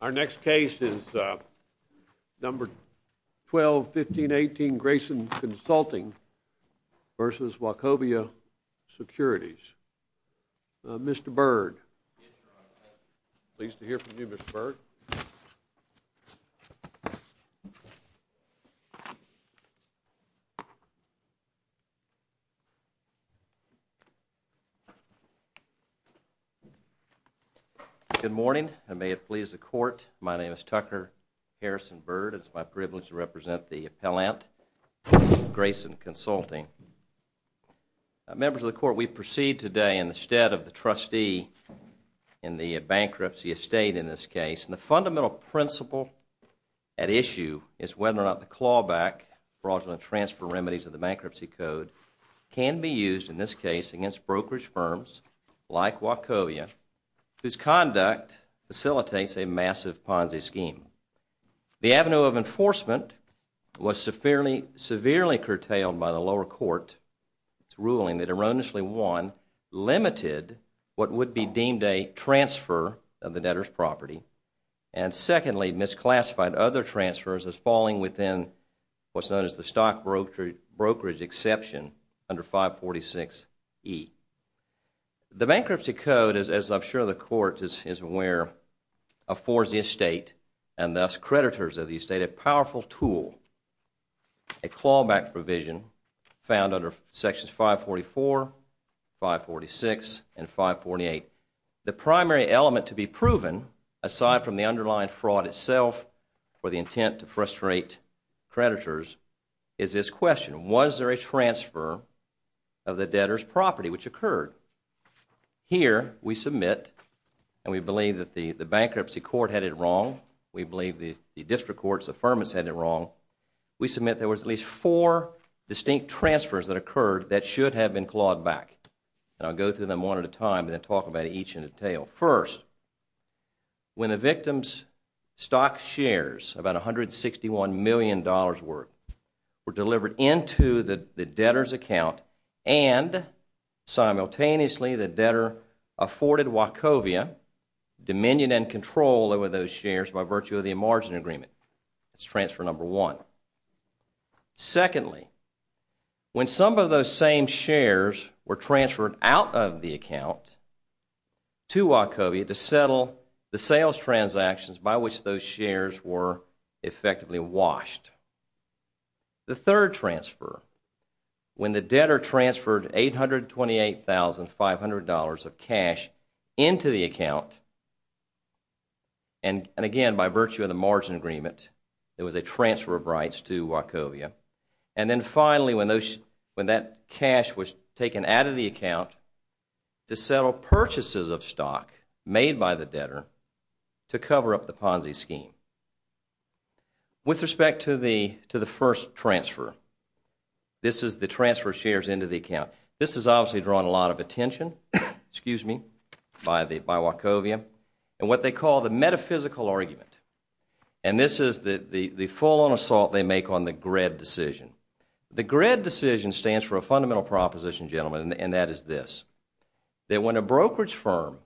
121518 Grayson Consulting, Inc. v. Wachovia Securities, Inc. Good morning and may it please the Court, my name is Tucker Harrison Byrd and it is my privilege to represent the appellant, Grayson Consulting. Members of the Court, we proceed today in the stead of the trustee in the bankruptcy estate in this case. And the fundamental principle at issue is whether or not the clawback fraudulent transfer remedies of the bankruptcy code can be used in this case against brokerage firms like Ponzi. This conduct facilitates a massive Ponzi scheme. The avenue of enforcement was severely curtailed by the lower court's ruling that erroneously one, limited what would be deemed a transfer of the debtor's property and secondly, misclassified other transfers as falling within what is known as the stock brokerage exception under 546E. The bankruptcy code, as I'm sure the Court is aware, affords the estate and thus creditors of the estate a powerful tool, a clawback provision found under sections 544, 546 and 548. The primary element to be proven aside from the underlying fraud itself or the intent to frustrate creditors is this question, was there a transfer of the debtor's property which occurred? Here we submit, and we believe that the bankruptcy court had it wrong, we believe the district court's affirmance had it wrong, we submit there was at least four distinct transfers that occurred that should have been clawed back. And I'll go through them one at a time and then talk about each in detail. First, when the victim's stock shares, about $161 million worth, were delivered into the account, simultaneously the debtor afforded Wachovia dominion and control over those shares by virtue of the margin agreement. That's transfer number one. Secondly, when some of those same shares were transferred out of the account to Wachovia to settle the sales transactions by which those shares were effectively washed. The third transfer, when the debtor transferred $828,500 of cash into the account, and again by virtue of the margin agreement, there was a transfer of rights to Wachovia. And then finally, when that cash was taken out of the account to settle purchases of stock made by the debtor to cover up the Ponzi scheme. With respect to the first transfer, this is the transfer of shares into the account. This is obviously drawn a lot of attention by Wachovia in what they call the metaphysical argument. And this is the full-on assault they make on the GRED decision. The GRED decision stands for a fundamental proposition, gentlemen, and that is this. That when a brokerage firm,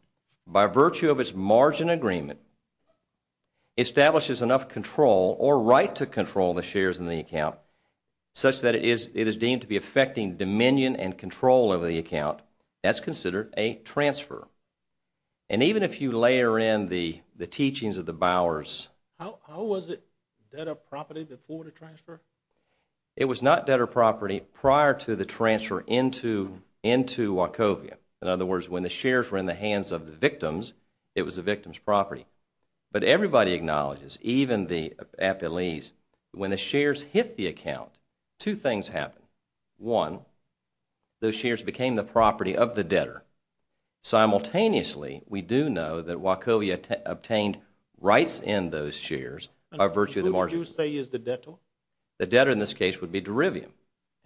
by virtue of its margin agreement, establishes enough control or right to control the shares in the account such that it is deemed to be affecting dominion and control over the account, that's considered a transfer. And even if you layer in the teachings of the Bowers... It was not debtor property prior to the transfer into Wachovia. In other words, when the shares were in the hands of the victims, it was the victim's property. But everybody acknowledges, even the appellees, when the shares hit the account, two things happened. One, those shares became the property of the debtor. Simultaneously, we do know that Wachovia obtained rights in those shares by virtue of the margin agreement. What would you say is the debtor? The debtor in this case would be Derivium.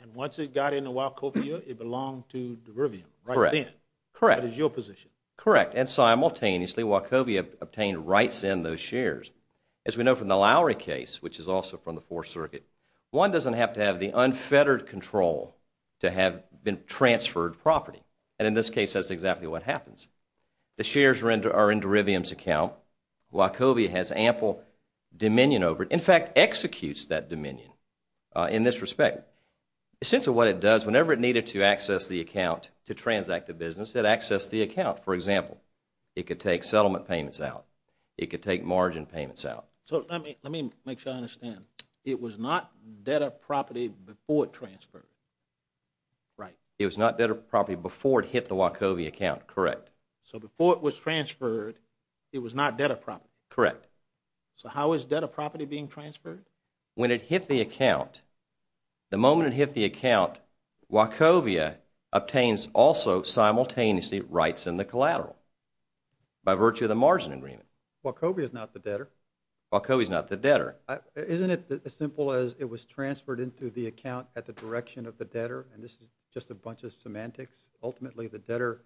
And once it got into Wachovia, it belonged to Derivium right then. Correct. That is your position. Correct. And simultaneously, Wachovia obtained rights in those shares. As we know from the Lowry case, which is also from the Fourth Circuit, one doesn't have to have the unfettered control to have been transferred property. And in this case, that's exactly what happens. The shares are in Derivium's account. Wachovia has ample dominion over it. In fact, executes that dominion in this respect. Essentially what it does, whenever it needed to access the account to transact the business, it accessed the account. For example, it could take settlement payments out. It could take margin payments out. So let me make sure I understand. It was not debtor property before it transferred. Right. It was not debtor property before it hit the Wachovia account. Correct. So before it was transferred, it was not debtor property. Correct. So how is debtor property being transferred? When it hit the account, the moment it hit the account, Wachovia obtains also simultaneously rights in the collateral by virtue of the margin agreement. Wachovia is not the debtor. Wachovia is not the debtor. Isn't it as simple as it was transferred into the account at the direction of the debtor? And this is just a bunch of semantics. Ultimately, the debtor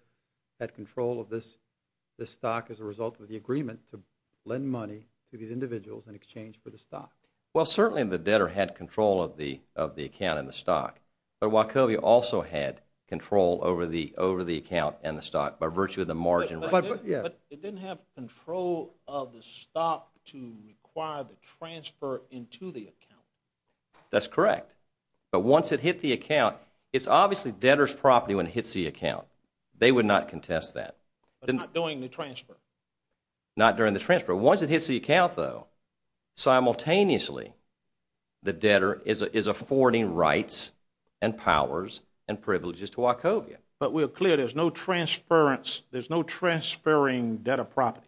had control of this stock as a result of the agreement to lend money to these individuals in exchange for the stock. Well, certainly the debtor had control of the account and the stock. But Wachovia also had control over the account and the stock by virtue of the margin rights. But it didn't have control of the stock to require the transfer into the account. That's correct. But once it hit the account, it's obviously debtor's property when it hits the account. They would not contest that. But not during the transfer. Not during the transfer. Once it hits the account, though, simultaneously, the debtor is affording rights and powers and privileges to Wachovia. But we're clear there's no transferring debtor property.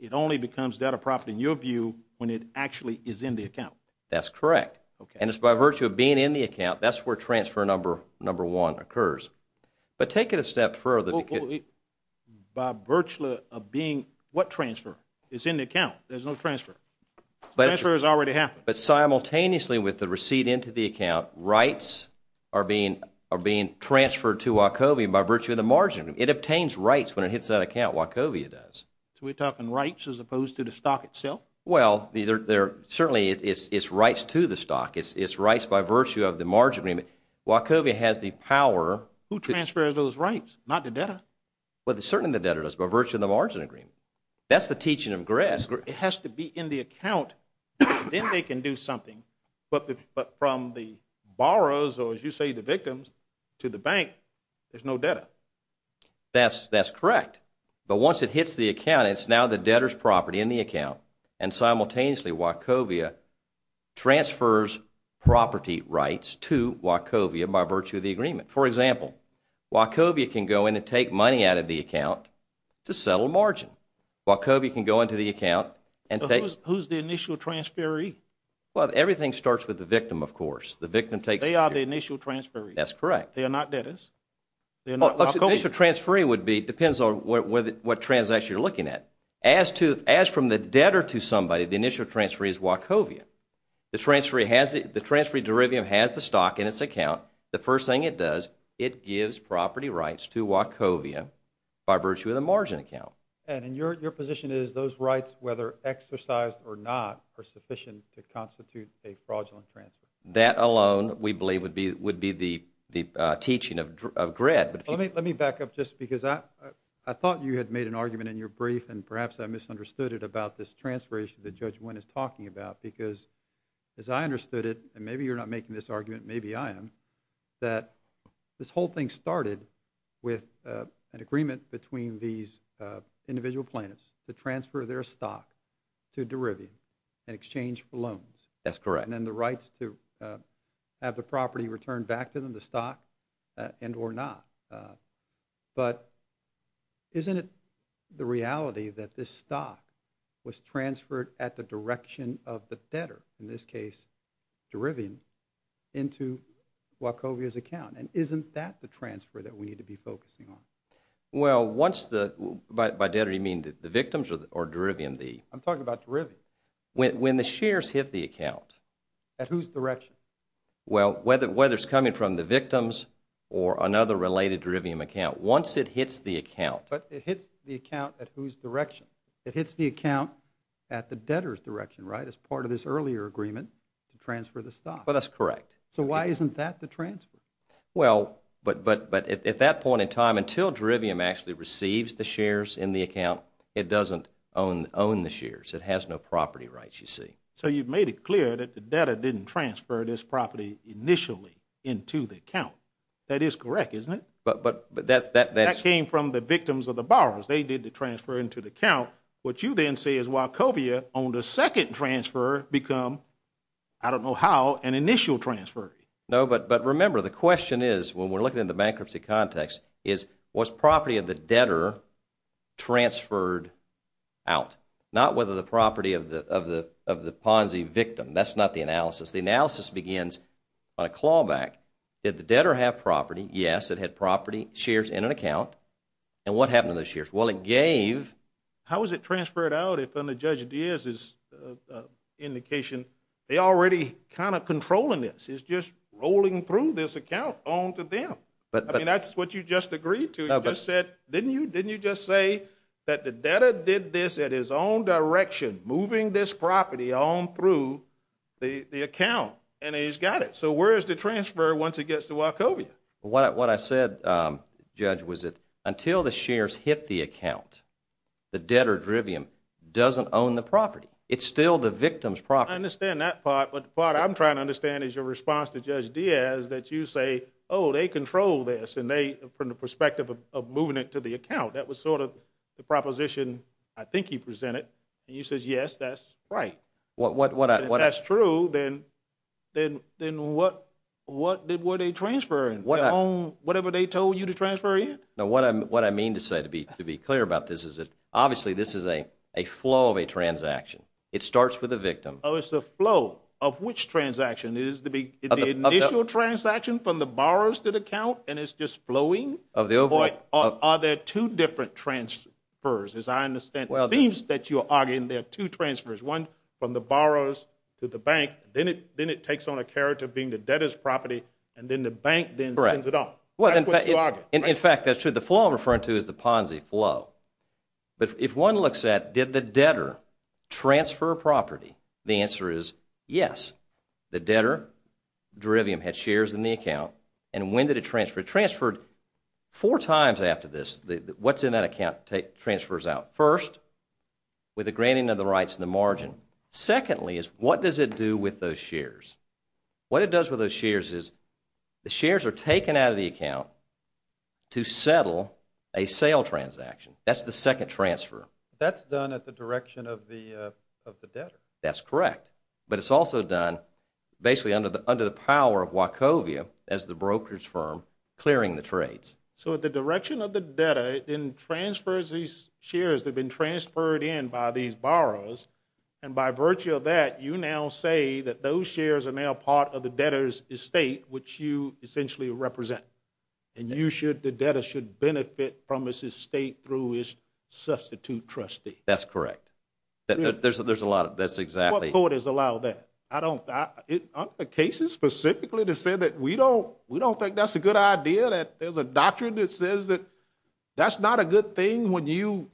It only becomes debtor property, in your view, when it actually is in the account. That's correct. And it's by virtue of being in the account. That's where transfer number one occurs. But take it a step further. By virtue of being what transfer? It's in the account. There's no transfer. Transfer has already happened. But simultaneously with the receipt into the account, rights are being transferred to Wachovia by virtue of the margin. It obtains rights when it hits that account. Wachovia does. So we're talking rights as opposed to the stock itself? Well, certainly it's rights to the stock. It's rights by virtue of the margin agreement. Wachovia has the power. Who transfers those rights, not the debtor? Well, certainly the debtor does by virtue of the margin agreement. That's the teaching of Gress. It has to be in the account. Then they can do something. But from the borrowers, or as you say, the victims, to the bank, there's no debtor. That's correct. But once it hits the account, it's now the debtor's property in the account, and simultaneously Wachovia transfers property rights to Wachovia by virtue of the agreement. For example, Wachovia can go in and take money out of the account to settle a margin. Wachovia can go into the account and take Who's the initial transferee? Well, everything starts with the victim, of course. They are the initial transferees. That's correct. They are not debtors. The initial transferee depends on what transaction you're looking at. As from the debtor to somebody, the initial transferee is Wachovia. The transferee derivative has the stock in its account. The first thing it does, it gives property rights to Wachovia by virtue of the margin account. And your position is those rights, whether exercised or not, are sufficient to constitute a fraudulent transfer? That alone, we believe, would be the teaching of Gregg. Let me back up just because I thought you had made an argument in your brief, and perhaps I misunderstood it about this transfer issue that Judge Wynn is talking about because as I understood it, and maybe you're not making this argument, maybe I am, that this whole thing started with an agreement between these individual plaintiffs to transfer their stock to Derivium in exchange for loans. That's correct. And then the rights to have the property returned back to them, the stock, and or not. But isn't it the reality that this stock was transferred at the direction of the debtor, in this case Derivium, into Wachovia's account? And isn't that the transfer that we need to be focusing on? Well, by debtor, you mean the victims or Derivium? I'm talking about Derivium. When the shares hit the account. At whose direction? Well, whether it's coming from the victims or another related Derivium account, once it hits the account. But it hits the account at whose direction? It hits the account at the debtor's direction, right, as part of this earlier agreement to transfer the stock. Well, that's correct. So why isn't that the transfer? Well, but at that point in time, until Derivium actually receives the shares in the account, it doesn't own the shares. It has no property rights, you see. So you've made it clear that the debtor didn't transfer this property initially into the account. That is correct, isn't it? That came from the victims or the borrowers. They did the transfer into the account. What you then say is Wachovia, on the second transfer, become, I don't know how, an initial transfer. No, but remember, the question is, when we're looking at the bankruptcy context, is was property of the debtor transferred out? Not whether the property of the Ponzi victim. That's not the analysis. The analysis begins on a clawback. Did the debtor have property? Yes, it had property shares in an account. And what happened to those shares? Well, it gave. How was it transferred out if, under Judge Diaz's indication, they're already kind of controlling this? It's just rolling through this account onto them. I mean, that's what you just agreed to. You just said, didn't you just say that the debtor did this at his own direction, moving this property on through the account, and he's got it. So where is the transfer once it gets to Wachovia? What I said, Judge, was that until the shares hit the account, the debtor doesn't own the property. It's still the victim's property. I understand that part, but the part I'm trying to understand is your response to Judge Diaz that you say, oh, they control this from the perspective of moving it to the account. That was sort of the proposition I think he presented. And you said, yes, that's right. If that's true, then what were they transferring, whatever they told you to transfer in? No, what I mean to say, to be clear about this, is that obviously this is a flow of a transaction. It starts with a victim. Oh, it's a flow of which transaction? The initial transaction from the borrowers to the account, and it's just flowing? Of the overall. Are there two different transfers, as I understand? It seems that you are arguing there are two transfers, one from the borrowers to the bank, then it takes on a character of being the debtor's property, and then the bank then sends it off. That's what you argue. In fact, that's true. The flow I'm referring to is the Ponzi flow. But if one looks at did the debtor transfer a property, the answer is yes. The debtor, the derivative, had shares in the account, and when did it transfer? It transferred four times after this. What's in that account transfers out. First, with the granting of the rights and the margin. Secondly, is what does it do with those shares? What it does with those shares is the shares are taken out of the account to settle a sale transaction. That's the second transfer. That's done at the direction of the debtor. That's correct. But it's also done basically under the power of Wachovia as the brokerage firm clearing the trades. So at the direction of the debtor, it then transfers these shares. They've been transferred in by these borrowers. And by virtue of that, you now say that those shares are now part of the debtor's estate, which you essentially represent. And the debtor should benefit from his estate through his substitute trustee. That's correct. There's a lot of that. That's exactly. What court has allowed that? I don't. Aren't the cases specifically to say that we don't think that's a good idea, that there's a doctrine that says that that's not a good thing when you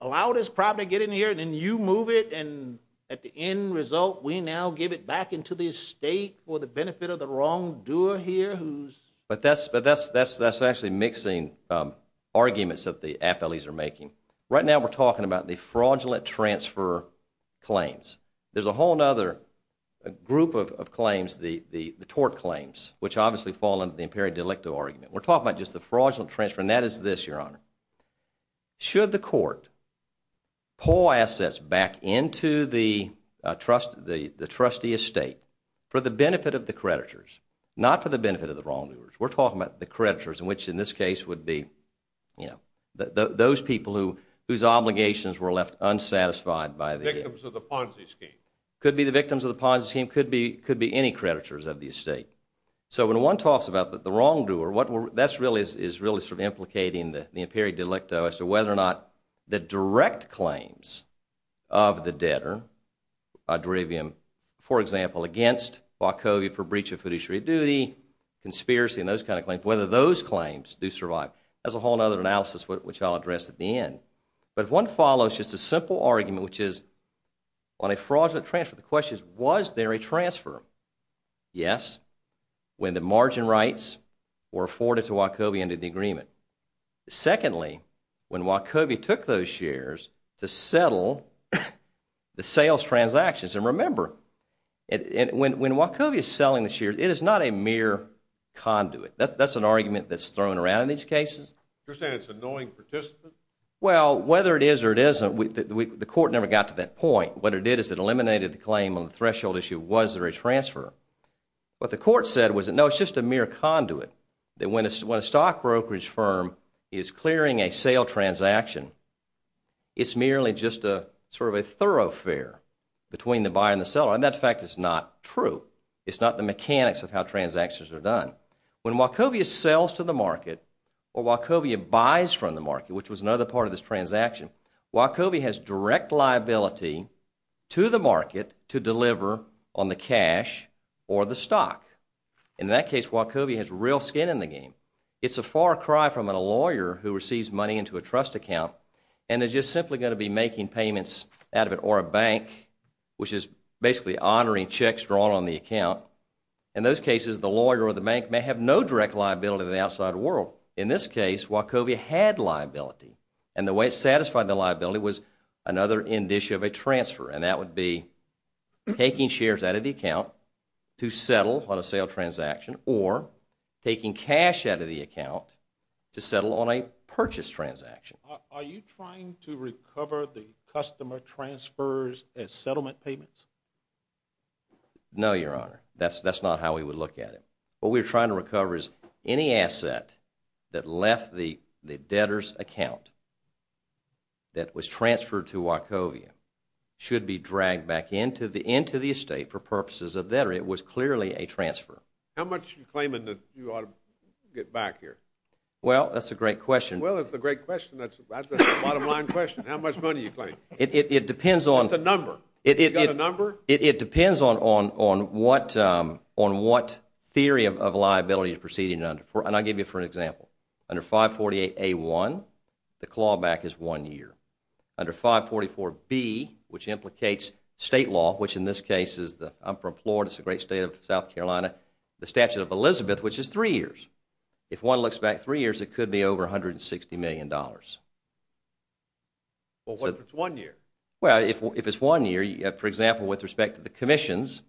allow this property to get in here and then you move it, and at the end result we now give it back into the estate for the benefit of the wrongdoer here who's. But that's actually mixing arguments that the appellees are making. Right now we're talking about the fraudulent transfer claims. There's a whole other group of claims, the tort claims, which obviously fall under the imperative delictive argument. We're talking about just the fraudulent transfer, and that is this, Your Honor. Should the court pull assets back into the trustee estate for the benefit of the creditors, not for the benefit of the wrongdoers. We're talking about the creditors, which in this case would be, you know, those people whose obligations were left unsatisfied by the estate. Victims of the Ponzi scheme. Could be the victims of the Ponzi scheme. Could be any creditors of the estate. So when one talks about the wrongdoer, that's really sort of implicating the imperative delicto as to whether or not the direct claims of the debtor, for example, against Wachovia for breach of fiduciary duty, conspiracy, and those kind of claims, whether those claims do survive. That's a whole other analysis, which I'll address at the end. But one follows just a simple argument, which is, on a fraudulent transfer, the question is, was there a transfer? Yes, when the margin rights were afforded to Wachovia under the agreement. Secondly, when Wachovia took those shares to settle the sales transactions, and remember, when Wachovia is selling the shares, it is not a mere conduit. That's an argument that's thrown around in these cases. You're saying it's a knowing participant? Well, whether it is or it isn't, the court never got to that point. What it did is it eliminated the claim on the threshold issue, was there a transfer? What the court said was, no, it's just a mere conduit, that when a stock brokerage firm is clearing a sale transaction, it's merely just sort of a thoroughfare between the buyer and the seller. And that fact is not true. It's not the mechanics of how transactions are done. When Wachovia sells to the market, or Wachovia buys from the market, which was another part of this transaction, Wachovia has direct liability to the market to deliver on the cash or the stock. In that case, Wachovia has real skin in the game. It's a far cry from a lawyer who receives money into a trust account and is just simply going to be making payments out of it, or a bank, which is basically honoring checks drawn on the account. In those cases, the lawyer or the bank may have no direct liability to the outside world. In this case, Wachovia had liability, and the way it satisfied the liability was another indicia of a transfer, and that would be taking shares out of the account to settle on a sale transaction, or taking cash out of the account to settle on a purchase transaction. Are you trying to recover the customer transfers as settlement payments? No, Your Honor. That's not how we would look at it. What we're trying to recover is any asset that left the debtor's account that was transferred to Wachovia should be dragged back into the estate for purposes of debtor. It was clearly a transfer. How much are you claiming that you ought to get back here? Well, that's a great question. Well, that's a great question. That's a bottom-line question. How much money are you claiming? It depends on— What's the number? Have you got a number? It depends on what theory of liability you're proceeding under, and I'll give you an example. Under 548A1, the clawback is one year. Under 544B, which implicates state law, which in this case is the— I'm from Florida. It's a great state of South Carolina—the Statute of Elizabeth, which is three years. If one looks back three years, it could be over $160 million. Well, what if it's one year? Well, if it's one year, for example, with respect to the commissions,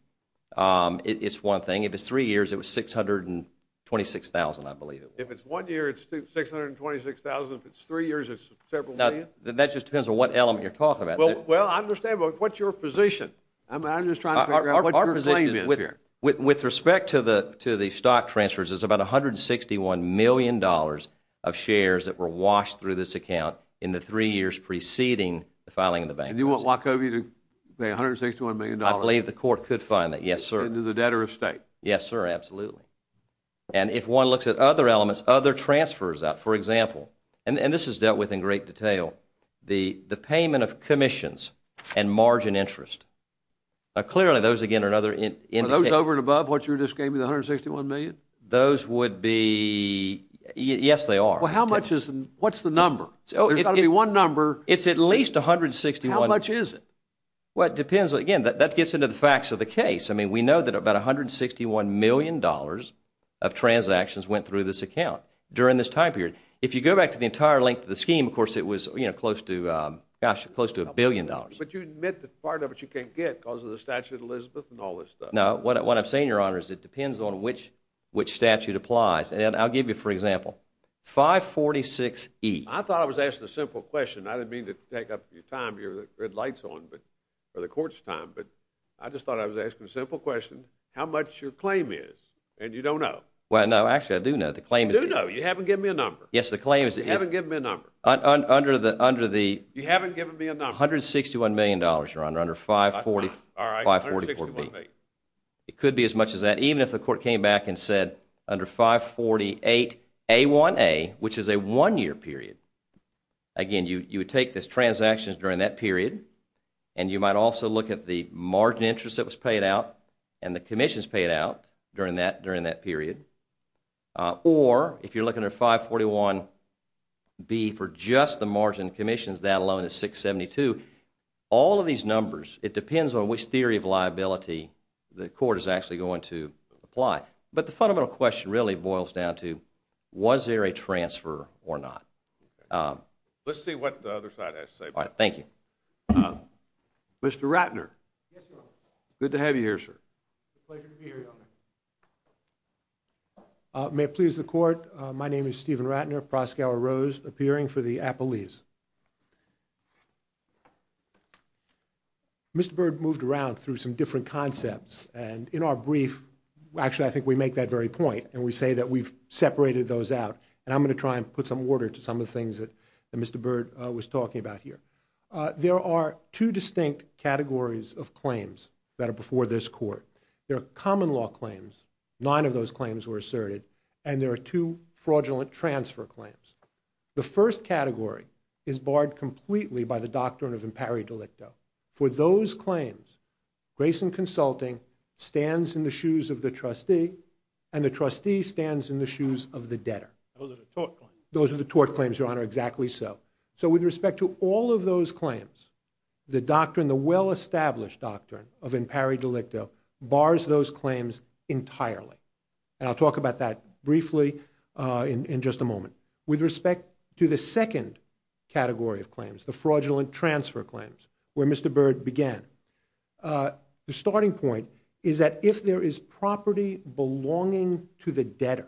it's one thing. If it's three years, it was $626,000, I believe it was. If it's one year, it's $626,000. If it's three years, it's several million? That just depends on what element you're talking about. Well, I understand, but what's your position? I'm just trying to figure out what your claim is here. With respect to the stock transfers, it's about $161 million of shares that were washed through this account in the three years preceding the filing of the bankruptcy. And you want Wachovia to pay $161 million? I believe the court could fine that, yes, sir. Into the debtor of state? Yes, sir, absolutely. And if one looks at other elements, other transfers out, for example, and this is dealt with in great detail, the payment of commissions and margin interest, clearly those, again, are another indication— Are those over and above what you just gave me, the $161 million? Those would be—yes, they are. Well, how much is—what's the number? There's got to be one number. It's at least $161— How much is it? Well, it depends. Again, that gets into the facts of the case. I mean, we know that about $161 million of transactions went through this account during this time period. If you go back to the entire length of the scheme, of course it was close to a billion dollars. But you admit that part of it you can't get because of the statute of Elizabeth and all this stuff. No, what I'm saying, Your Honor, is it depends on which statute applies. And I'll give you, for example, 546E. I thought I was asking a simple question. I didn't mean to take up your time, your red light's on, or the court's time. But I just thought I was asking a simple question, how much your claim is, and you don't know. Well, no, actually I do know. You do know. You haven't given me a number. Yes, the claim is— You haven't given me a number. Under the— You haven't given me a number. $161 million, Your Honor, under 544B. It could be as much as that, even if the court came back and said under 548A1A, which is a one-year period. Again, you would take these transactions during that period, and you might also look at the margin interest that was paid out and the commissions paid out during that period. Or, if you're looking under 541B for just the margin commissions, that alone is 672. All of these numbers, it depends on which theory of liability the court is actually going to apply. But the fundamental question really boils down to, was there a transfer or not? Let's see what the other side has to say. All right. Thank you. Mr. Ratner. Yes, Your Honor. Good to have you here, sir. Pleasure to be here, Your Honor. May it please the Court, My name is Stephen Ratner, Proskauer Rose, appearing for the appellees. Mr. Byrd moved around through some different concepts, and in our brief, actually I think we make that very point, and we say that we've separated those out. And I'm going to try and put some order to some of the things that Mr. Byrd was talking about here. There are two distinct categories of claims that are before this Court. There are common law claims. Nine of those claims were asserted. And there are two fraudulent transfer claims. The first category is barred completely by the doctrine of impari delicto. For those claims, Grayson Consulting stands in the shoes of the trustee, and the trustee stands in the shoes of the debtor. Those are the tort claims. Those are the tort claims, Your Honor, exactly so. So with respect to all of those claims, the doctrine, the well-established doctrine of impari delicto, bars those claims entirely. And I'll talk about that briefly in just a moment. With respect to the second category of claims, the fraudulent transfer claims, where Mr. Byrd began, the starting point is that if there is property belonging to the debtor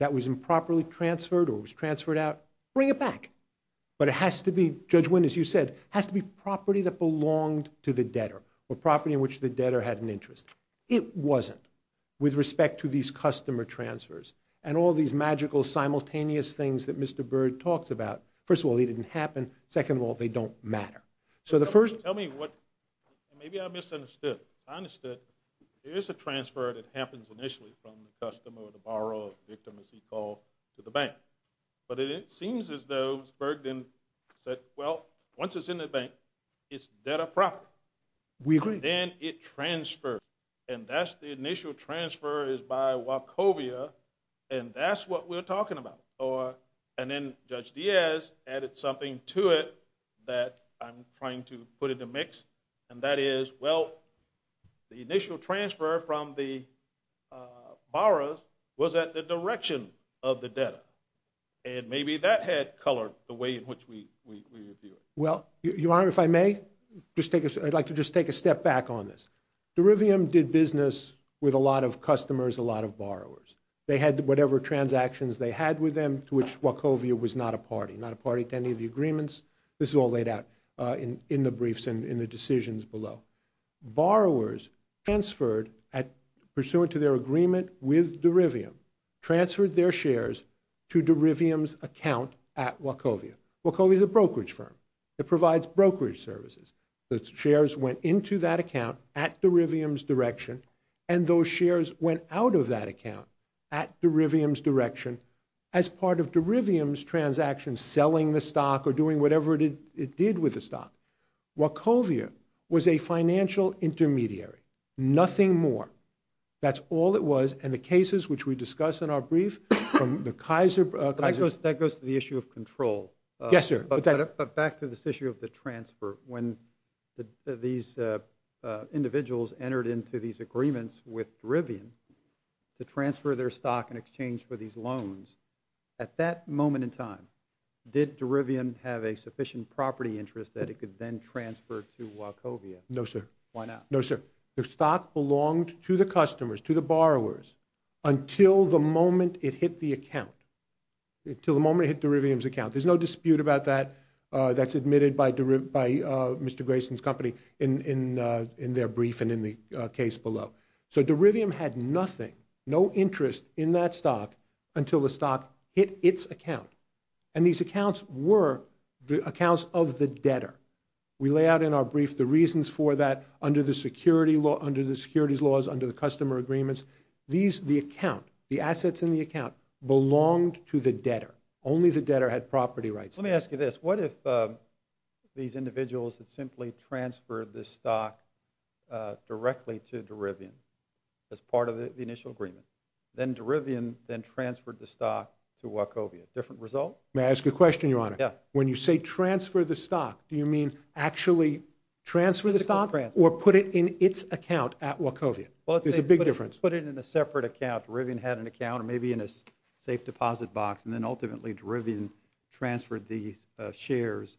that was improperly transferred or was transferred out, bring it back. But it has to be, Judge Wynn, as you said, has to be property that belonged to the debtor or property in which the debtor had an interest. It wasn't with respect to these customer transfers and all these magical simultaneous things that Mr. Byrd talks about. First of all, they didn't happen. Second of all, they don't matter. So the first... Tell me what, maybe I misunderstood. I understood there is a transfer that happens initially from the customer or the borrower or victim, as he called, to the bank. But it seems as though Byrd then said, well, once it's in the bank, it's debtor property. We agree. And then it transferred. And that's the initial transfer is by Wachovia, and that's what we're talking about. And then Judge Diaz added something to it that I'm trying to put in the mix, and that is, well, the initial transfer from the borrowers was at the direction of the debtor. And maybe that had colored the way in which we view it. Well, Your Honor, if I may, I'd like to just take a step back on this. Derivium did business with a lot of customers, a lot of borrowers. They had whatever transactions they had with them, to which Wachovia was not a party, not a party to any of the agreements. This is all laid out in the briefs and in the decisions below. Borrowers transferred, pursuant to their agreement with Derivium, transferred their shares to Derivium's account at Wachovia. Wachovia is a brokerage firm. It provides brokerage services. The shares went into that account at Derivium's direction, and those shares went out of that account at Derivium's direction as part of Derivium's transactions, selling the stock or doing whatever it did with the stock. Wachovia was a financial intermediary, nothing more. That's all it was. And the cases which we discuss in our brief from the Kaiser... That goes to the issue of control. Yes, sir. But back to this issue of the transfer. When these individuals entered into these agreements with Derivium to transfer their stock in exchange for these loans, at that moment in time, did Derivium have a sufficient property interest that it could then transfer to Wachovia? No, sir. Why not? No, sir. The stock belonged to the customers, to the borrowers, until the moment it hit the account, until the moment it hit Derivium's account. There's no dispute about that. That's admitted by Mr. Grayson's company in their brief and in the case below. So Derivium had nothing, no interest in that stock until the stock hit its account. And these accounts were the accounts of the debtor. We lay out in our brief the reasons for that under the securities laws, under the customer agreements. These, the account, the assets in the account, belonged to the debtor. Only the debtor had property rights. Let me ask you this. What if these individuals had simply transferred this stock directly to Derivium as part of the initial agreement? Then Derivium then transferred the stock to Wachovia. Different result? May I ask you a question, Your Honor? Yeah. When you say transfer the stock, do you mean actually transfer the stock or put it in its account at Wachovia? There's a big difference. Put it in a separate account. Derivium had an account, maybe in a safe deposit box, and then ultimately Derivium transferred the shares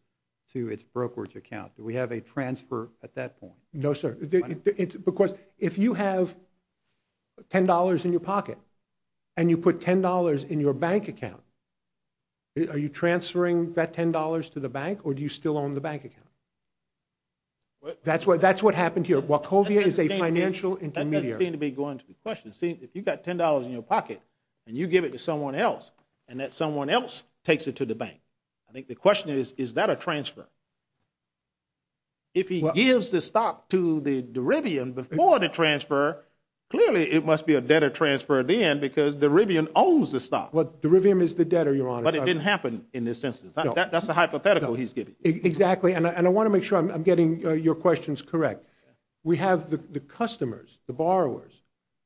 to its brokerage account. Do we have a transfer at that point? No, sir. Because if you have $10 in your pocket and you put $10 in your bank account, are you transferring that $10 to the bank, or do you still own the bank account? That's what happened here. Wachovia is a financial intermediary. That doesn't seem to be going to be questioned. See, if you've got $10 in your pocket and you give it to someone else and that someone else takes it to the bank, I think the question is, is that a transfer? If he gives the stock to Derivium before the transfer, clearly it must be a debtor transfer then because Derivium owns the stock. Well, Derivium is the debtor, Your Honor. But it didn't happen in this instance. That's a hypothetical he's giving. Exactly, and I want to make sure I'm getting your questions correct. We have the customers, the borrowers,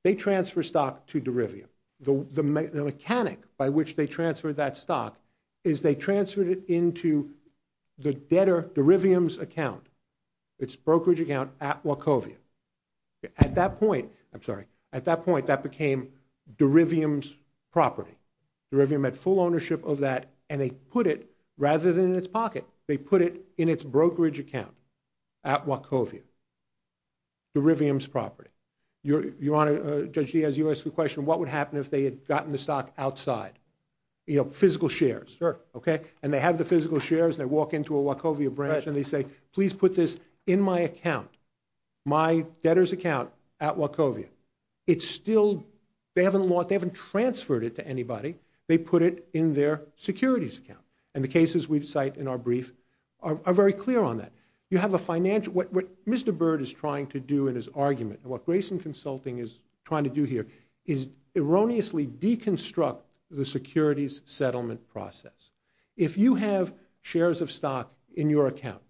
they transfer stock to Derivium. The mechanic by which they transfer that stock is they transferred it into the debtor, Derivium's account, its brokerage account at Wachovia. At that point, I'm sorry, at that point that became Derivium's property. Derivium had full ownership of that, and they put it, rather than in its pocket, they put it in its brokerage account at Wachovia, Derivium's property. Your Honor, Judge Diaz, you asked the question, what would happen if they had gotten the stock outside? You know, physical shares, okay? And they have the physical shares and they walk into a Wachovia branch and they say, please put this in my account, my debtor's account at Wachovia. It's still, they haven't transferred it to anybody. They put it in their securities account. And the cases we cite in our brief are very clear on that. You have a financial... What Mr. Byrd is trying to do in his argument, what Grayson Consulting is trying to do here, is erroneously deconstruct the securities settlement process. If you have shares of stock in your account,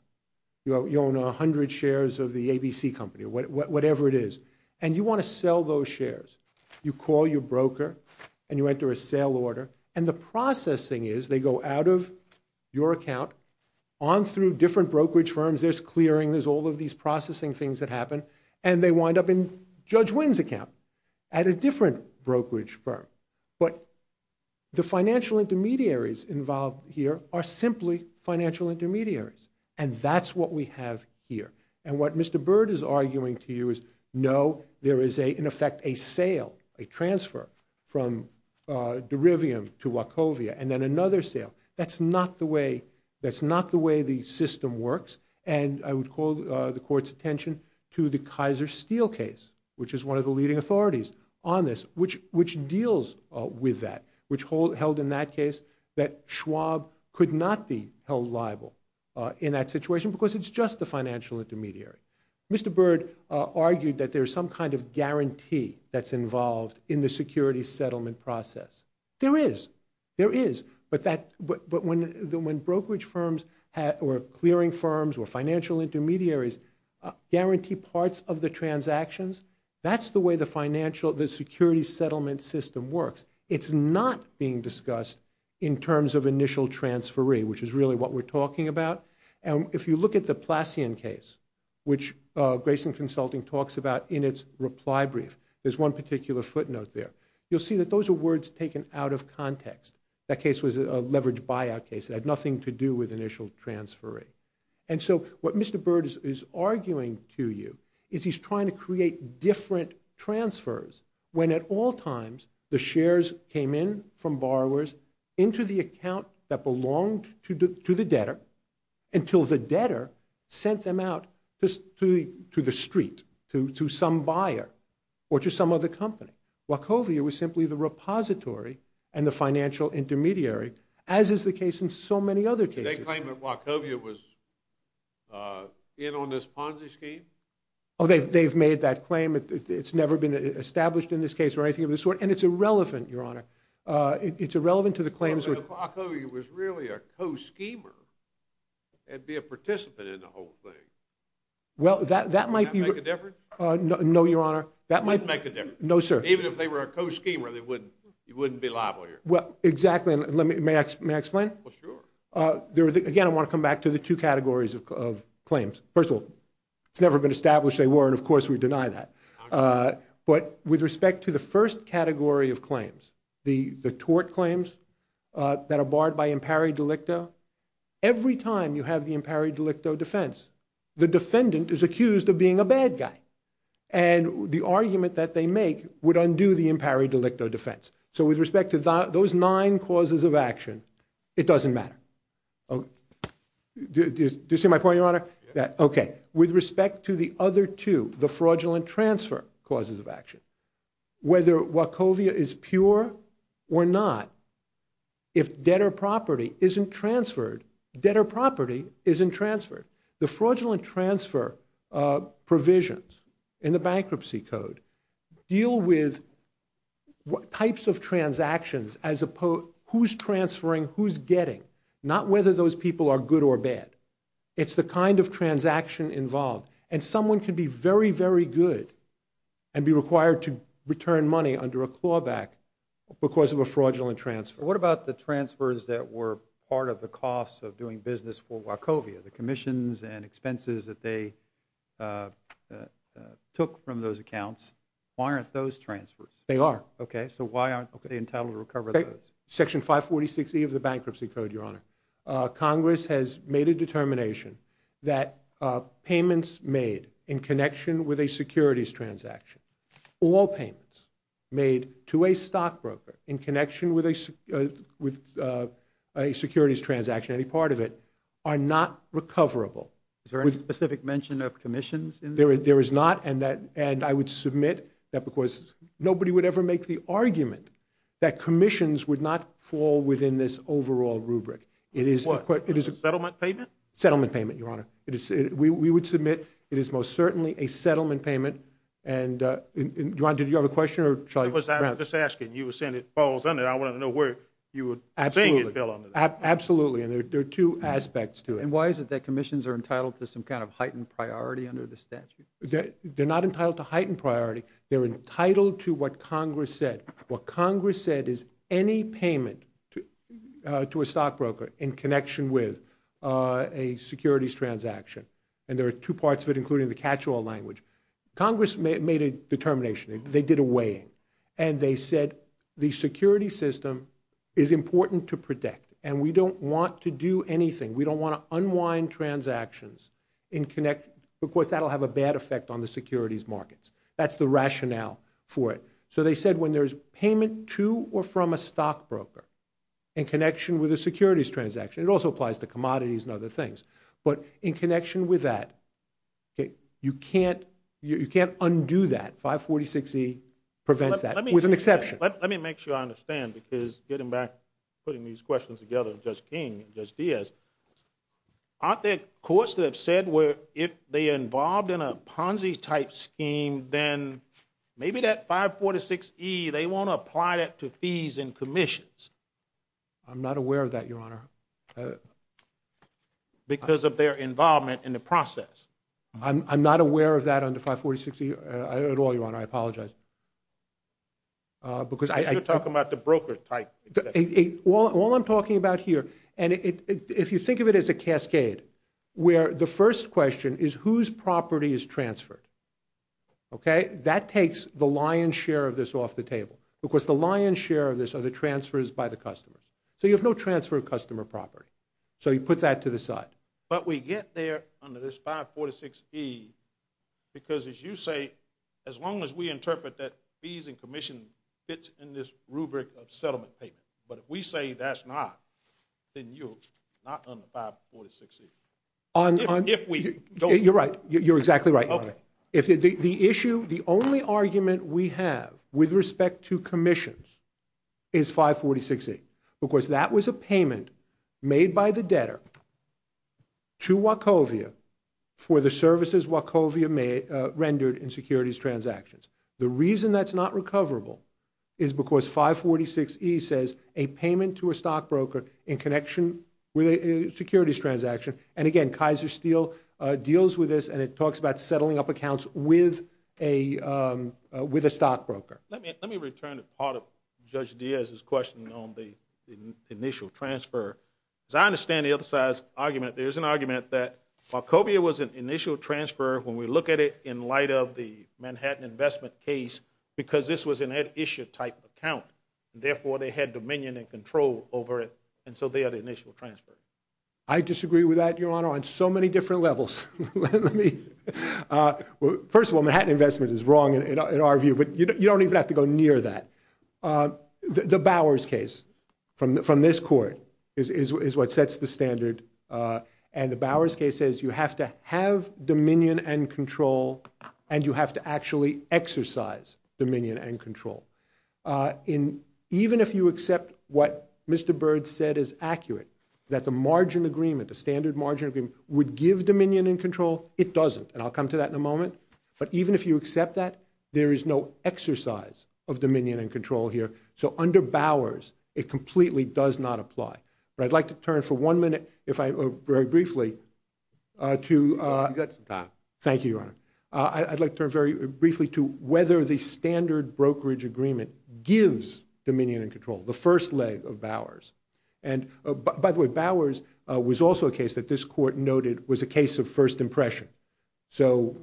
you own 100 shares of the ABC company, whatever it is, and you want to sell those shares, you call your broker and you enter a sale order, and the processing is, they go out of your account, on through different brokerage firms, there's clearing, there's all of these processing things that happen, and they wind up in Judge Wynn's account at a different brokerage firm. But the financial intermediaries involved here are simply financial intermediaries, and that's what we have here. And what Mr. Byrd is arguing to you is, no, there is, in effect, a sale, a transfer, from Derivium to Wachovia, and then another sale. That's not the way... That's not the way the system works, and I would call the court's attention to the Kaiser Steel case, which is one of the leading authorities on this, which deals with that, which held in that case that Schwab could not be held liable in that situation because it's just a financial intermediary. Mr. Byrd argued that there's some kind of guarantee that's involved in the security settlement process. There is. There is. But that... but when brokerage firms or clearing firms or financial intermediaries guarantee parts of the transactions, that's the way the financial... the security settlement system works. It's not being discussed in terms of initial transferee, which is really what we're talking about. And if you look at the Plassian case, which Grayson Consulting talks about in its reply brief, there's one particular footnote there. You'll see that those are words taken out of context. That case was a leveraged buyout case. It had nothing to do with initial transferee. And so what Mr. Byrd is arguing to you is he's trying to create different transfers when, at all times, the shares came in from borrowers into the account that belonged to the debtor until the debtor sent them out to the street, to some buyer or to some other company. Wachovia was simply the repository and the financial intermediary, as is the case in so many other cases. Did they claim that Wachovia was in on this Ponzi scheme? Oh, they've made that claim. It's never been established in this case or anything of the sort, and it's irrelevant, Your Honor. It's irrelevant to the claims... If Wachovia was really a co-schemer, it'd be a participant in the whole thing. Well, that might be... Would that make a difference? No, Your Honor. That might... It wouldn't make a difference. No, sir. Even if they were a co-schemer, you wouldn't be liable here. Well, exactly. May I explain? Well, sure. Again, I want to come back to the two categories of claims. First of all, it's never been established they were, and of course we deny that. But with respect to the first category of claims, the tort claims that are barred by impari delicto, every time you have the impari delicto defense, the defendant is accused of being a bad guy. And the argument that they make would undo the impari delicto defense. So with respect to those nine causes of action, it doesn't matter. Oh... Do you see my point, Your Honor? Okay. With respect to the other two, the fraudulent transfer causes of action, whether Wachovia is pure or not, if debtor property isn't transferred, debtor property isn't transferred. The fraudulent transfer provisions in the Bankruptcy Code deal with types of transactions as opposed... who's transferring, who's getting, not whether those people are good or bad. It's the kind of transaction involved. And someone can be very, very good and be required to return money under a clawback because of a fraudulent transfer. What about the transfers that were part of the cost of doing business for Wachovia? The commissions and expenses that they took from those accounts, why aren't those transfers? They are. Okay, so why aren't they entitled to recover those? Section 546E of the Bankruptcy Code, Your Honor. Congress has made a determination that payments made in connection with a securities transaction, all payments made to a stockbroker in connection with a securities transaction, any part of it, are not recoverable. Is there any specific mention of commissions in this? There is not, and I would submit that because nobody would ever make the argument that commissions would not fall within this overall rubric. It is... Settlement payment? Settlement payment, Your Honor. We would submit it is most certainly a settlement payment. And, Ron, did you have a question, or shall I... I was just asking. You were saying it falls under. I wanted to know where you were saying it fell under. Absolutely, and there are two aspects to it. And why is it that commissions are entitled to some kind of heightened priority under the statute? They're not entitled to heightened priority. They're entitled to what Congress said. What Congress said is any payment to a stockbroker in connection with a securities transaction, and there are two parts of it, including the catch-all language. Congress made a determination. They did a weighing, and they said, the security system is important to protect, and we don't want to do anything. We don't want to unwind transactions in connection... Of course, that will have a bad effect on the securities markets. That's the rationale for it. So they said when there's payment to or from a stockbroker in connection with a securities transaction, it also applies to commodities and other things. But in connection with that, you can't undo that. 546E prevents that, with an exception. Let me make sure I understand, because getting back, putting these questions together, Judge King and Judge Diaz, aren't there courts that have said where if they are involved in a Ponzi-type scheme, then maybe that 546E, they want to apply that to fees and commissions? I'm not aware of that, Your Honor. Because of their involvement in the process. I'm not aware of that under 546E at all, Your Honor. I apologize. Because I... Because you're talking about the broker-type. All I'm talking about here, and if you think of it as a cascade, where the first question is whose property is transferred, okay? That takes the lion's share of this off the table. Because the lion's share of this are the transfers by the customers. So you have no transfer of customer property. So you put that to the side. But we get there under this 546E, because as you say, as long as we interpret that fees and commission fits in this rubric of settlement payment. But if we say that's not, then you're not under 546E. If we don't... You're right. You're exactly right, Your Honor. If the issue, the only argument we have with respect to commissions is 546E. Because that was a payment made by the debtor to Wachovia for the services Wachovia rendered in securities transactions. The reason that's not recoverable is because 546E says a payment to a stockbroker in connection with a securities transaction. And again, Kaiser Steel deals with this, and it talks about settling up accounts with a stockbroker. Let me return to part of Judge Diaz's question on the initial transfer. As I understand the other side's argument, there's an argument that Wachovia was an initial transfer when we look at it in light of the Manhattan investment case, because this was an at-issue type account. Therefore, they had dominion and control over it, and so they had an initial transfer. I disagree with that, Your Honor, on so many different levels. First of all, Manhattan investment is wrong in our view, but you don't even have to go near that. The Bowers case from this court is what sets the standard, and the Bowers case says you have to have dominion and control, and you have to actually exercise dominion and control. Even if you accept what Mr. Byrd said is accurate, that the margin agreement, the standard margin agreement, would give dominion and control, it doesn't. And I'll come to that in a moment. But even if you accept that, there is no exercise of dominion and control here. So under Bowers, it completely does not apply. But I'd like to turn for one minute, if I... very briefly, to... You've got some time. Thank you, Your Honor. I'd like to turn very briefly to whether the standard brokerage agreement gives dominion and control, the first leg of Bowers. And by the way, Bowers was also a case that this court noted was a case of first impression. So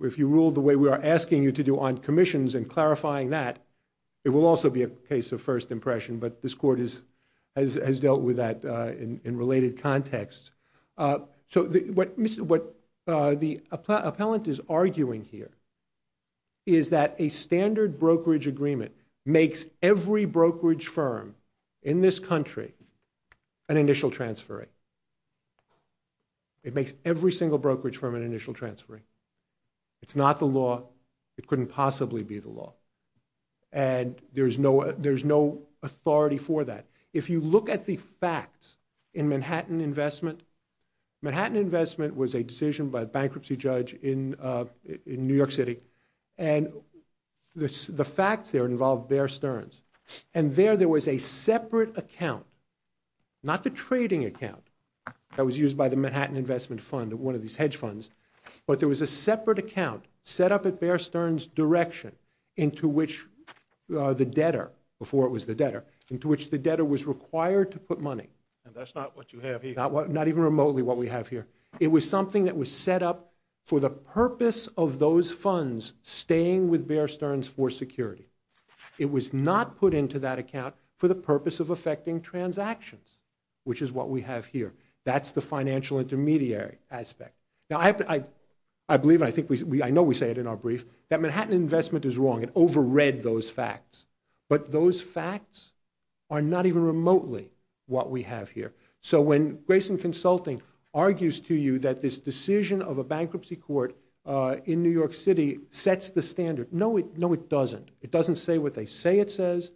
if you rule the way we are asking you to do on commissions and clarifying that, it will also be a case of first impression, but this court has dealt with that in related contexts. So what the appellant is arguing here is that a standard brokerage agreement makes every brokerage firm in this country an initial transferring. It makes every single brokerage firm an initial transferring. It's not the law. It couldn't possibly be the law. And there's no authority for that. If you look at the facts in Manhattan investment, Manhattan investment was a decision by a bankruptcy judge in New York City, and the facts there involved Bear Stearns. And there, there was a separate account, not the trading account that was used by the Manhattan Investment Fund, one of these hedge funds, but there was a separate account set up at Bear Stearns' direction into which the debtor, before it was the debtor, into which the debtor was required to put money. And that's not what you have here. Not even remotely what we have here. It was something that was set up for the purpose of those funds staying with Bear Stearns for security. It was not put into that account for the purpose of affecting transactions, which is what we have here. That's the financial intermediary aspect. Now, I believe, and I know we say it in our brief, that Manhattan investment is wrong. It overread those facts. But those facts are not even remotely what we have here. So when Grayson Consulting argues to you that this decision of a bankruptcy court in New York City sets the standard, no, it doesn't. It doesn't say what they say it says,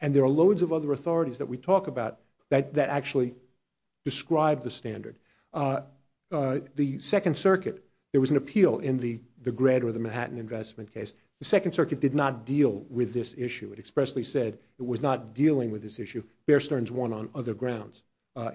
and there are loads of other authorities that we talk about that actually describe the standard. The Second Circuit, there was an appeal in the Gred or the Manhattan investment case. The Second Circuit did not deal with this issue. It expressly said it was not dealing with this issue. Bear Stearns won on other grounds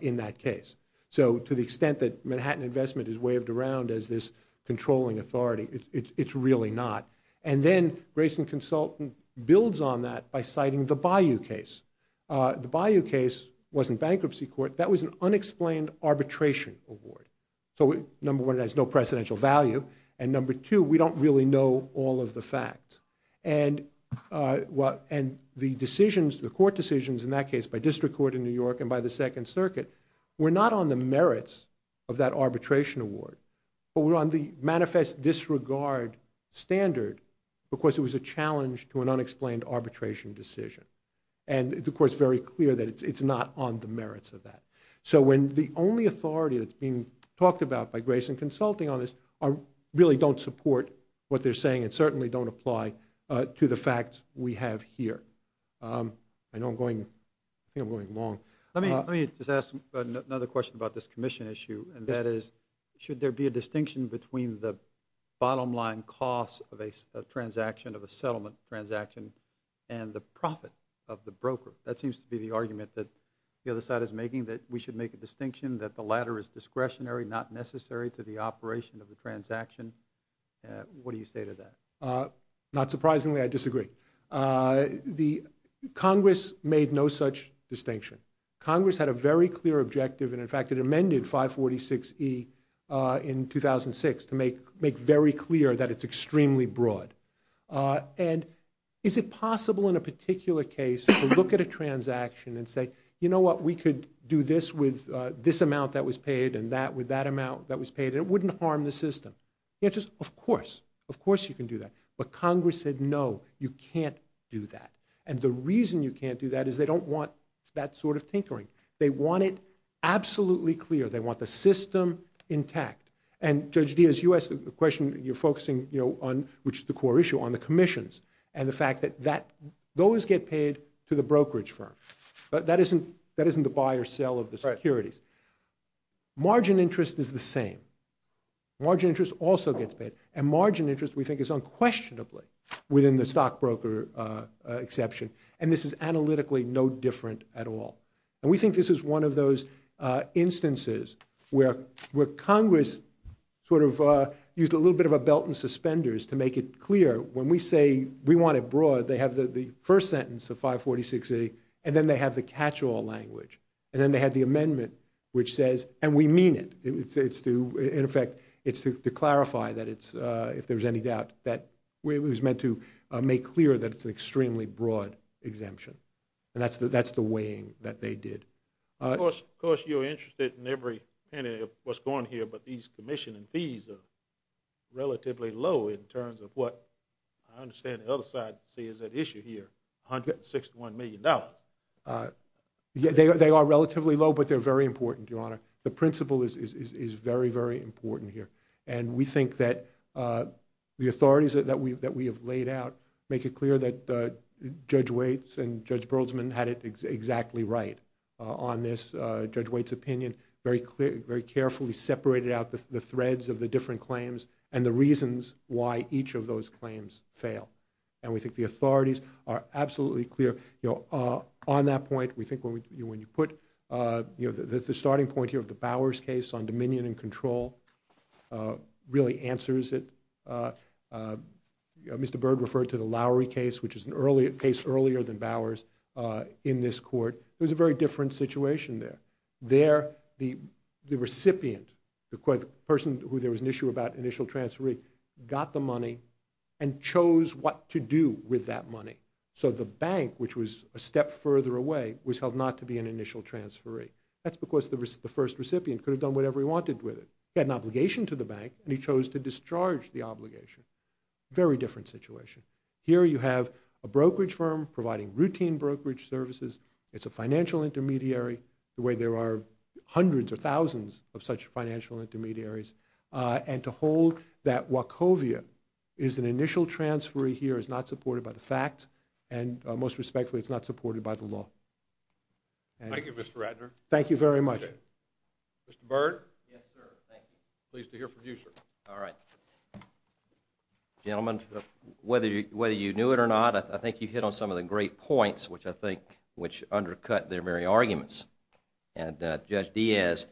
in that case. So to the extent that Manhattan investment is waved around as this controlling authority, it's really not. And then Grayson Consulting builds on that by citing the Bayou case. The Bayou case wasn't bankruptcy court. That was an unexplained arbitration award. So number one, it has no presidential value. And number two, we don't really know all of the facts. And the decisions, the court decisions in that case by district court in New York and by the Second Circuit were not on the merits of that arbitration award, but were on the manifest disregard standard because it was a challenge to an unexplained arbitration decision. And the court's very clear that it's not on the merits of that. So when the only authority that's being talked about by Grayson Consulting on this really don't support what they're saying and certainly don't apply to the facts we have here. I know I'm going... I think I'm going long. Let me just ask another question about this commission issue, and that is, should there be a distinction between the bottom-line cost of a transaction, of a settlement transaction, and the profit of the broker? That seems to be the argument that the other side is making, that we should make a distinction, that the latter is discretionary, not necessary to the operation of the transaction. What do you say to that? Not surprisingly, I disagree. The Congress made no such distinction. Congress had a very clear objective, and, in fact, it amended 546E in 2006 to make very clear that it's extremely broad. And is it possible, in a particular case, to look at a transaction and say, you know what, we could do this with this amount that was paid and that with that amount that was paid, and it wouldn't harm the system? The answer is, of course, of course you can do that. But Congress said, no, you can't do that. And the reason you can't do that is they don't want that sort of tinkering. They want it absolutely clear. They want the system intact. And, Judge Diaz, you asked a question, you're focusing, you know, on... which is the core issue, on the commissions and the fact that that... those get paid to the brokerage firm. That isn't, that isn't the buy or sell of the securities. Margin interest is the same. Margin interest also gets paid. And margin interest, we think, is unquestionably within the stockbroker exception. And this is analytically no different at all. And we think this is one of those instances where Congress sort of used a little bit of a belt and suspenders to make it clear. When we say we want it broad, they have the first sentence of 546A, and then they have the catch-all language. And then they have the amendment, which says, and we mean it. It's to, in effect, it's to clarify that it's, if there's any doubt, that it was meant to make clear that it's an extremely broad exemption. And that's the, that's the weighing that they did. Of course, of course, you're interested in every penny of what's going here, but these commission and fees are relatively low in terms of what, I understand the other side says, that issue here, $161 million. Yeah, they are relatively low, but they're very important, Your Honor. The principle is, is, is very, very important here. And we think that the authorities that we, that we have laid out make it clear that Judge Waits and Judge Berlesman had it exactly right on this. Judge Waits' opinion very clearly, very carefully separated out the threads of the different claims and the reasons why each of those claims fail. And we think the authorities are absolutely clear. You know, on that point, we think when you put, you know, the starting point here of the Bowers case on dominion and control really answers it. Mr. Byrd referred to the Lowry case, which is an earlier case, earlier than Bowers, in this court. It was a very different situation there. There, the recipient, the person who there was an issue about initial transferee, got the money and chose what to do with that money. So the bank, which was a step further away, was held not to be an initial transferee. That's because the first recipient could have done whatever he wanted with it. He had an obligation to the bank, and he chose to discharge the obligation. Very different situation. Here you have a brokerage firm providing routine brokerage services. It's a financial intermediary, the way there are hundreds or thousands of such financial intermediaries. And to hold that Wachovia is an initial transferee here is not supported by the facts, and most respectfully, it's not supported by the law. Thank you, Mr. Ratner. Thank you very much. Mr. Byrd? Yes, sir. Thank you. Pleased to hear from you, sir. All right. Gentlemen, whether you knew it or not, I think you hit on some of the great points, which I think undercut their very arguments. And Judge Diaz,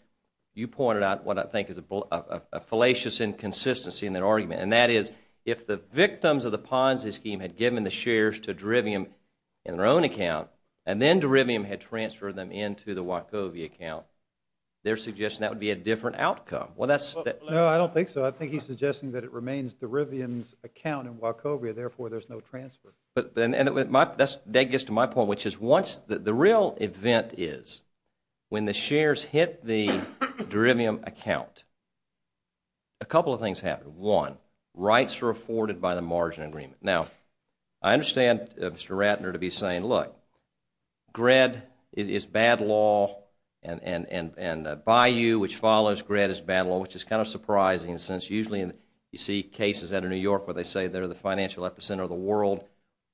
you pointed out what I think is a fallacious inconsistency in their argument, and that is if the victims of the Ponzi scheme had given the shares to Derivium in their own account, and then Derivium had transferred them into the Wachovia account, they're suggesting that would be a different outcome. Well, that's... No, I don't think so. I think he's suggesting that it remains Derivium's account in Wachovia, therefore there's no transfer. And that gets to my point, which is once the real event is when the shares hit the Derivium account, a couple of things happen. One, rights are afforded by the margin agreement. Now, I understand Mr. Ratner to be saying, look, GRED is bad law, and Bayou, which follows GRED, is bad law, which is kind of surprising since usually you see cases out of New York where they say they're the financial epicenter of the world.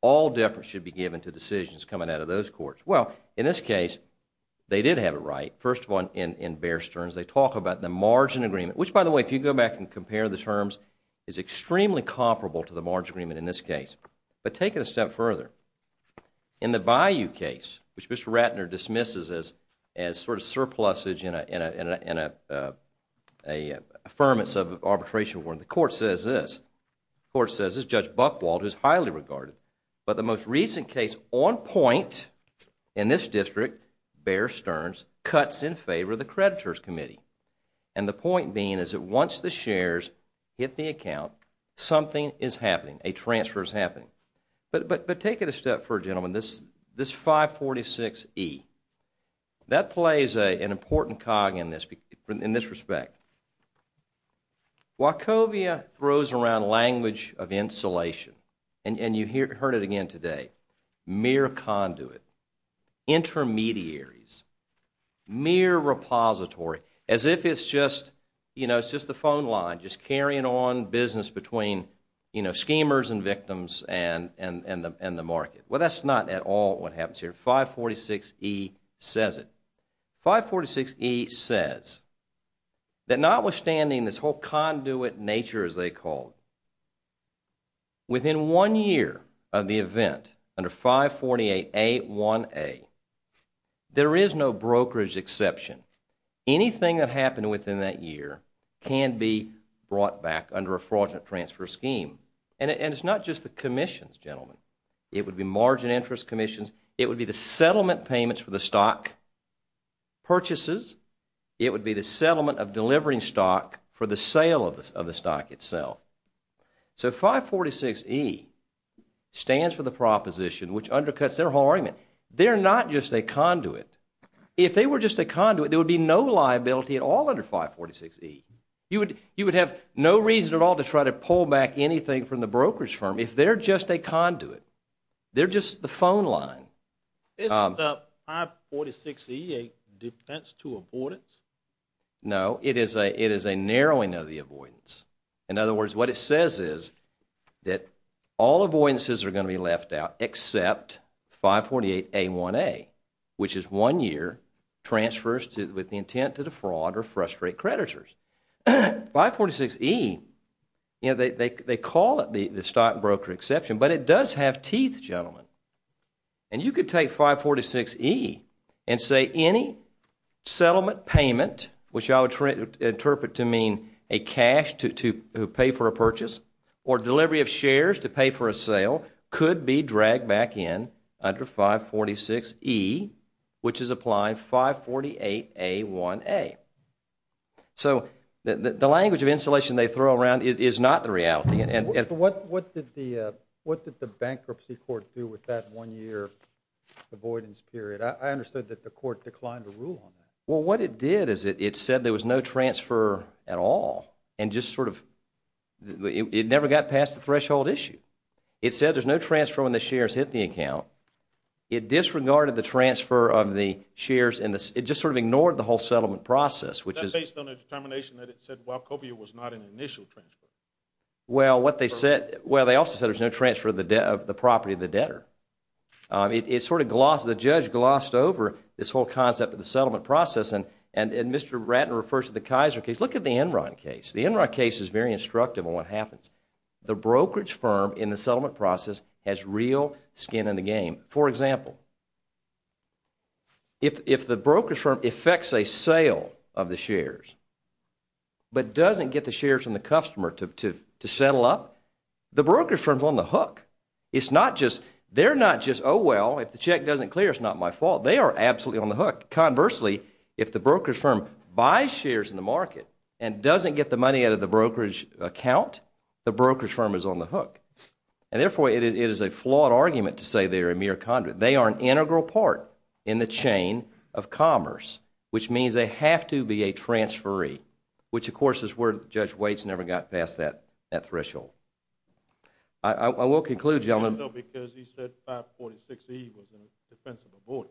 All deference should be given to decisions coming out of those courts. Well, in this case, they did have it right. First of all, in Bear Stearns, they talk about the margin agreement, which, by the way, if you go back and compare the terms, is extremely comparable to the margin agreement in this case. But take it a step further. In the Bayou case, which Mr. Ratner dismisses as sort of surplusage in an affirmance of arbitration, the court says this. The court says this is Judge Buchwald, who's highly regarded. But the most recent case on point in this district, Bear Stearns, cuts in favor of the creditors' committee. And the point being is that once the shares hit the account, something is happening. A transfer is happening. But take it a step further, gentlemen. This 546E, that plays an important cog in this respect. Wachovia throws around language of insulation. And you heard it again today. Mere conduit. Intermediaries. Mere repository. As if it's just the phone line just carrying on business between schemers and victims and the market. Well, that's not at all what happens here. 546E says it. 546E says that notwithstanding this whole conduit nature, as they call it, within one year of the event under 548A1A, there is no brokerage exception. Anything that happened within that year can be brought back under a fraudulent transfer scheme. And it's not just the commissions, gentlemen. It would be margin interest commissions. It would be the settlement payments for the stock purchases. It would be the settlement of delivering stock for the sale of the stock itself. So 546E stands for the proposition, which undercuts their whole argument. They're not just a conduit. If they were just a conduit, there would be no liability at all under 546E. You would have no reason at all to try to pull back anything from the brokerage firm if they're just a conduit. They're just the phone line. Isn't 546E a defense to avoidance? No, it is a narrowing of the avoidance. In other words, what it says is that all avoidances are going to be left out except 548A1A, which is one year transfers with the intent to defraud or frustrate creditors. 546E, they call it the stockbroker exception, but it does have teeth, gentlemen. And you could take 546E and say any settlement payment, which I would interpret to mean a cash to pay for a purchase or delivery of shares to pay for a sale, could be dragged back in under 546E, which is applied 548A1A. So the language of insulation they throw around is not the reality. What did the bankruptcy court do with that one-year avoidance period? I understood that the court declined to rule on that. Well, what it did is it said there was no transfer at all and just sort of it never got past the threshold issue. It said there's no transfer when the shares hit the account. It disregarded the transfer of the shares and it just sort of ignored the whole settlement process, which is... That's based on a determination that it said Wachovia was not an initial transfer. Well, what they said, well, they also said there's no transfer of the property of the debtor. It sort of glossed, the judge glossed over this whole concept of the settlement process and Mr. Ratner refers to the Kaiser case. Look at the Enron case. The Enron case is very instructive on what happens. The brokerage firm in the settlement process has real skin in the game. For example, if the brokerage firm effects a sale of the shares but doesn't get the shares from the customer to settle up, the brokerage firm's on the hook. It's not just... They're not just, oh, well, if the check doesn't clear, it's not my fault. They are absolutely on the hook. Conversely, if the brokerage firm buys shares in the market the brokerage firm is on the hook and therefore, it is a flawed argument to say they are a mere conduit. They are an integral part in the chain of commerce which means they have to be a transferee which, of course, is where Judge Waits never got past that threshold. I will conclude, gentlemen... No, because he said 546E was in defense of the board.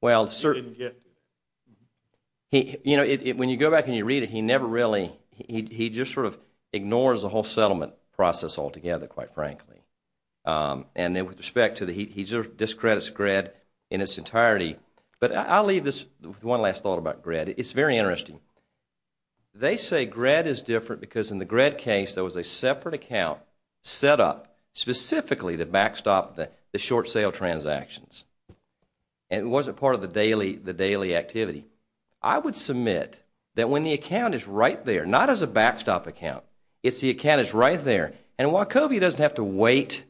Well, certainly... He didn't get to it. You know, when you go back and you read it, he never really... He just sort of ignores the whole settlement process altogether, quite frankly. And then with respect to... He discredits GRED in its entirety. But I'll leave this with one last thought about GRED. It's very interesting. They say GRED is different because in the GRED case there was a separate account set up specifically to backstop the short sale transactions and it wasn't part of the daily activity. I would submit that when the account is right there, not as a backstop account, it's the account that's right there. And while COBE doesn't have to wait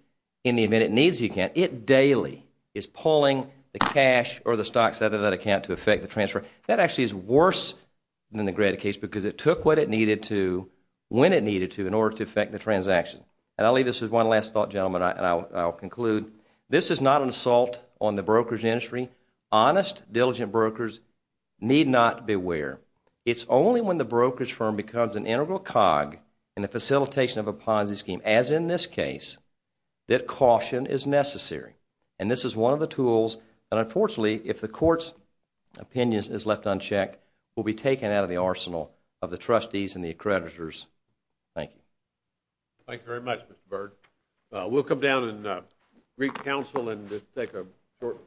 in the event it needs the account, it daily is pulling the cash or the stocks out of that account to affect the transfer. That actually is worse than the GRED case because it took what it needed to, when it needed to, in order to affect the transaction. And I'll leave this with one last thought, gentlemen, and I'll conclude. This is not an assault on the brokerage industry. Honest, diligent brokers need not beware. It's only when the brokerage firm becomes an integral cog in the facilitation of a Ponzi scheme, as in this case, that caution is necessary. And this is one of the tools that, unfortunately, if the court's opinion is left unchecked, will be taken out of the arsenal of the trustees and the accreditors. Thank you. Thank you very much, Mr. Byrd. We'll come down and re-counsel and just take a short break.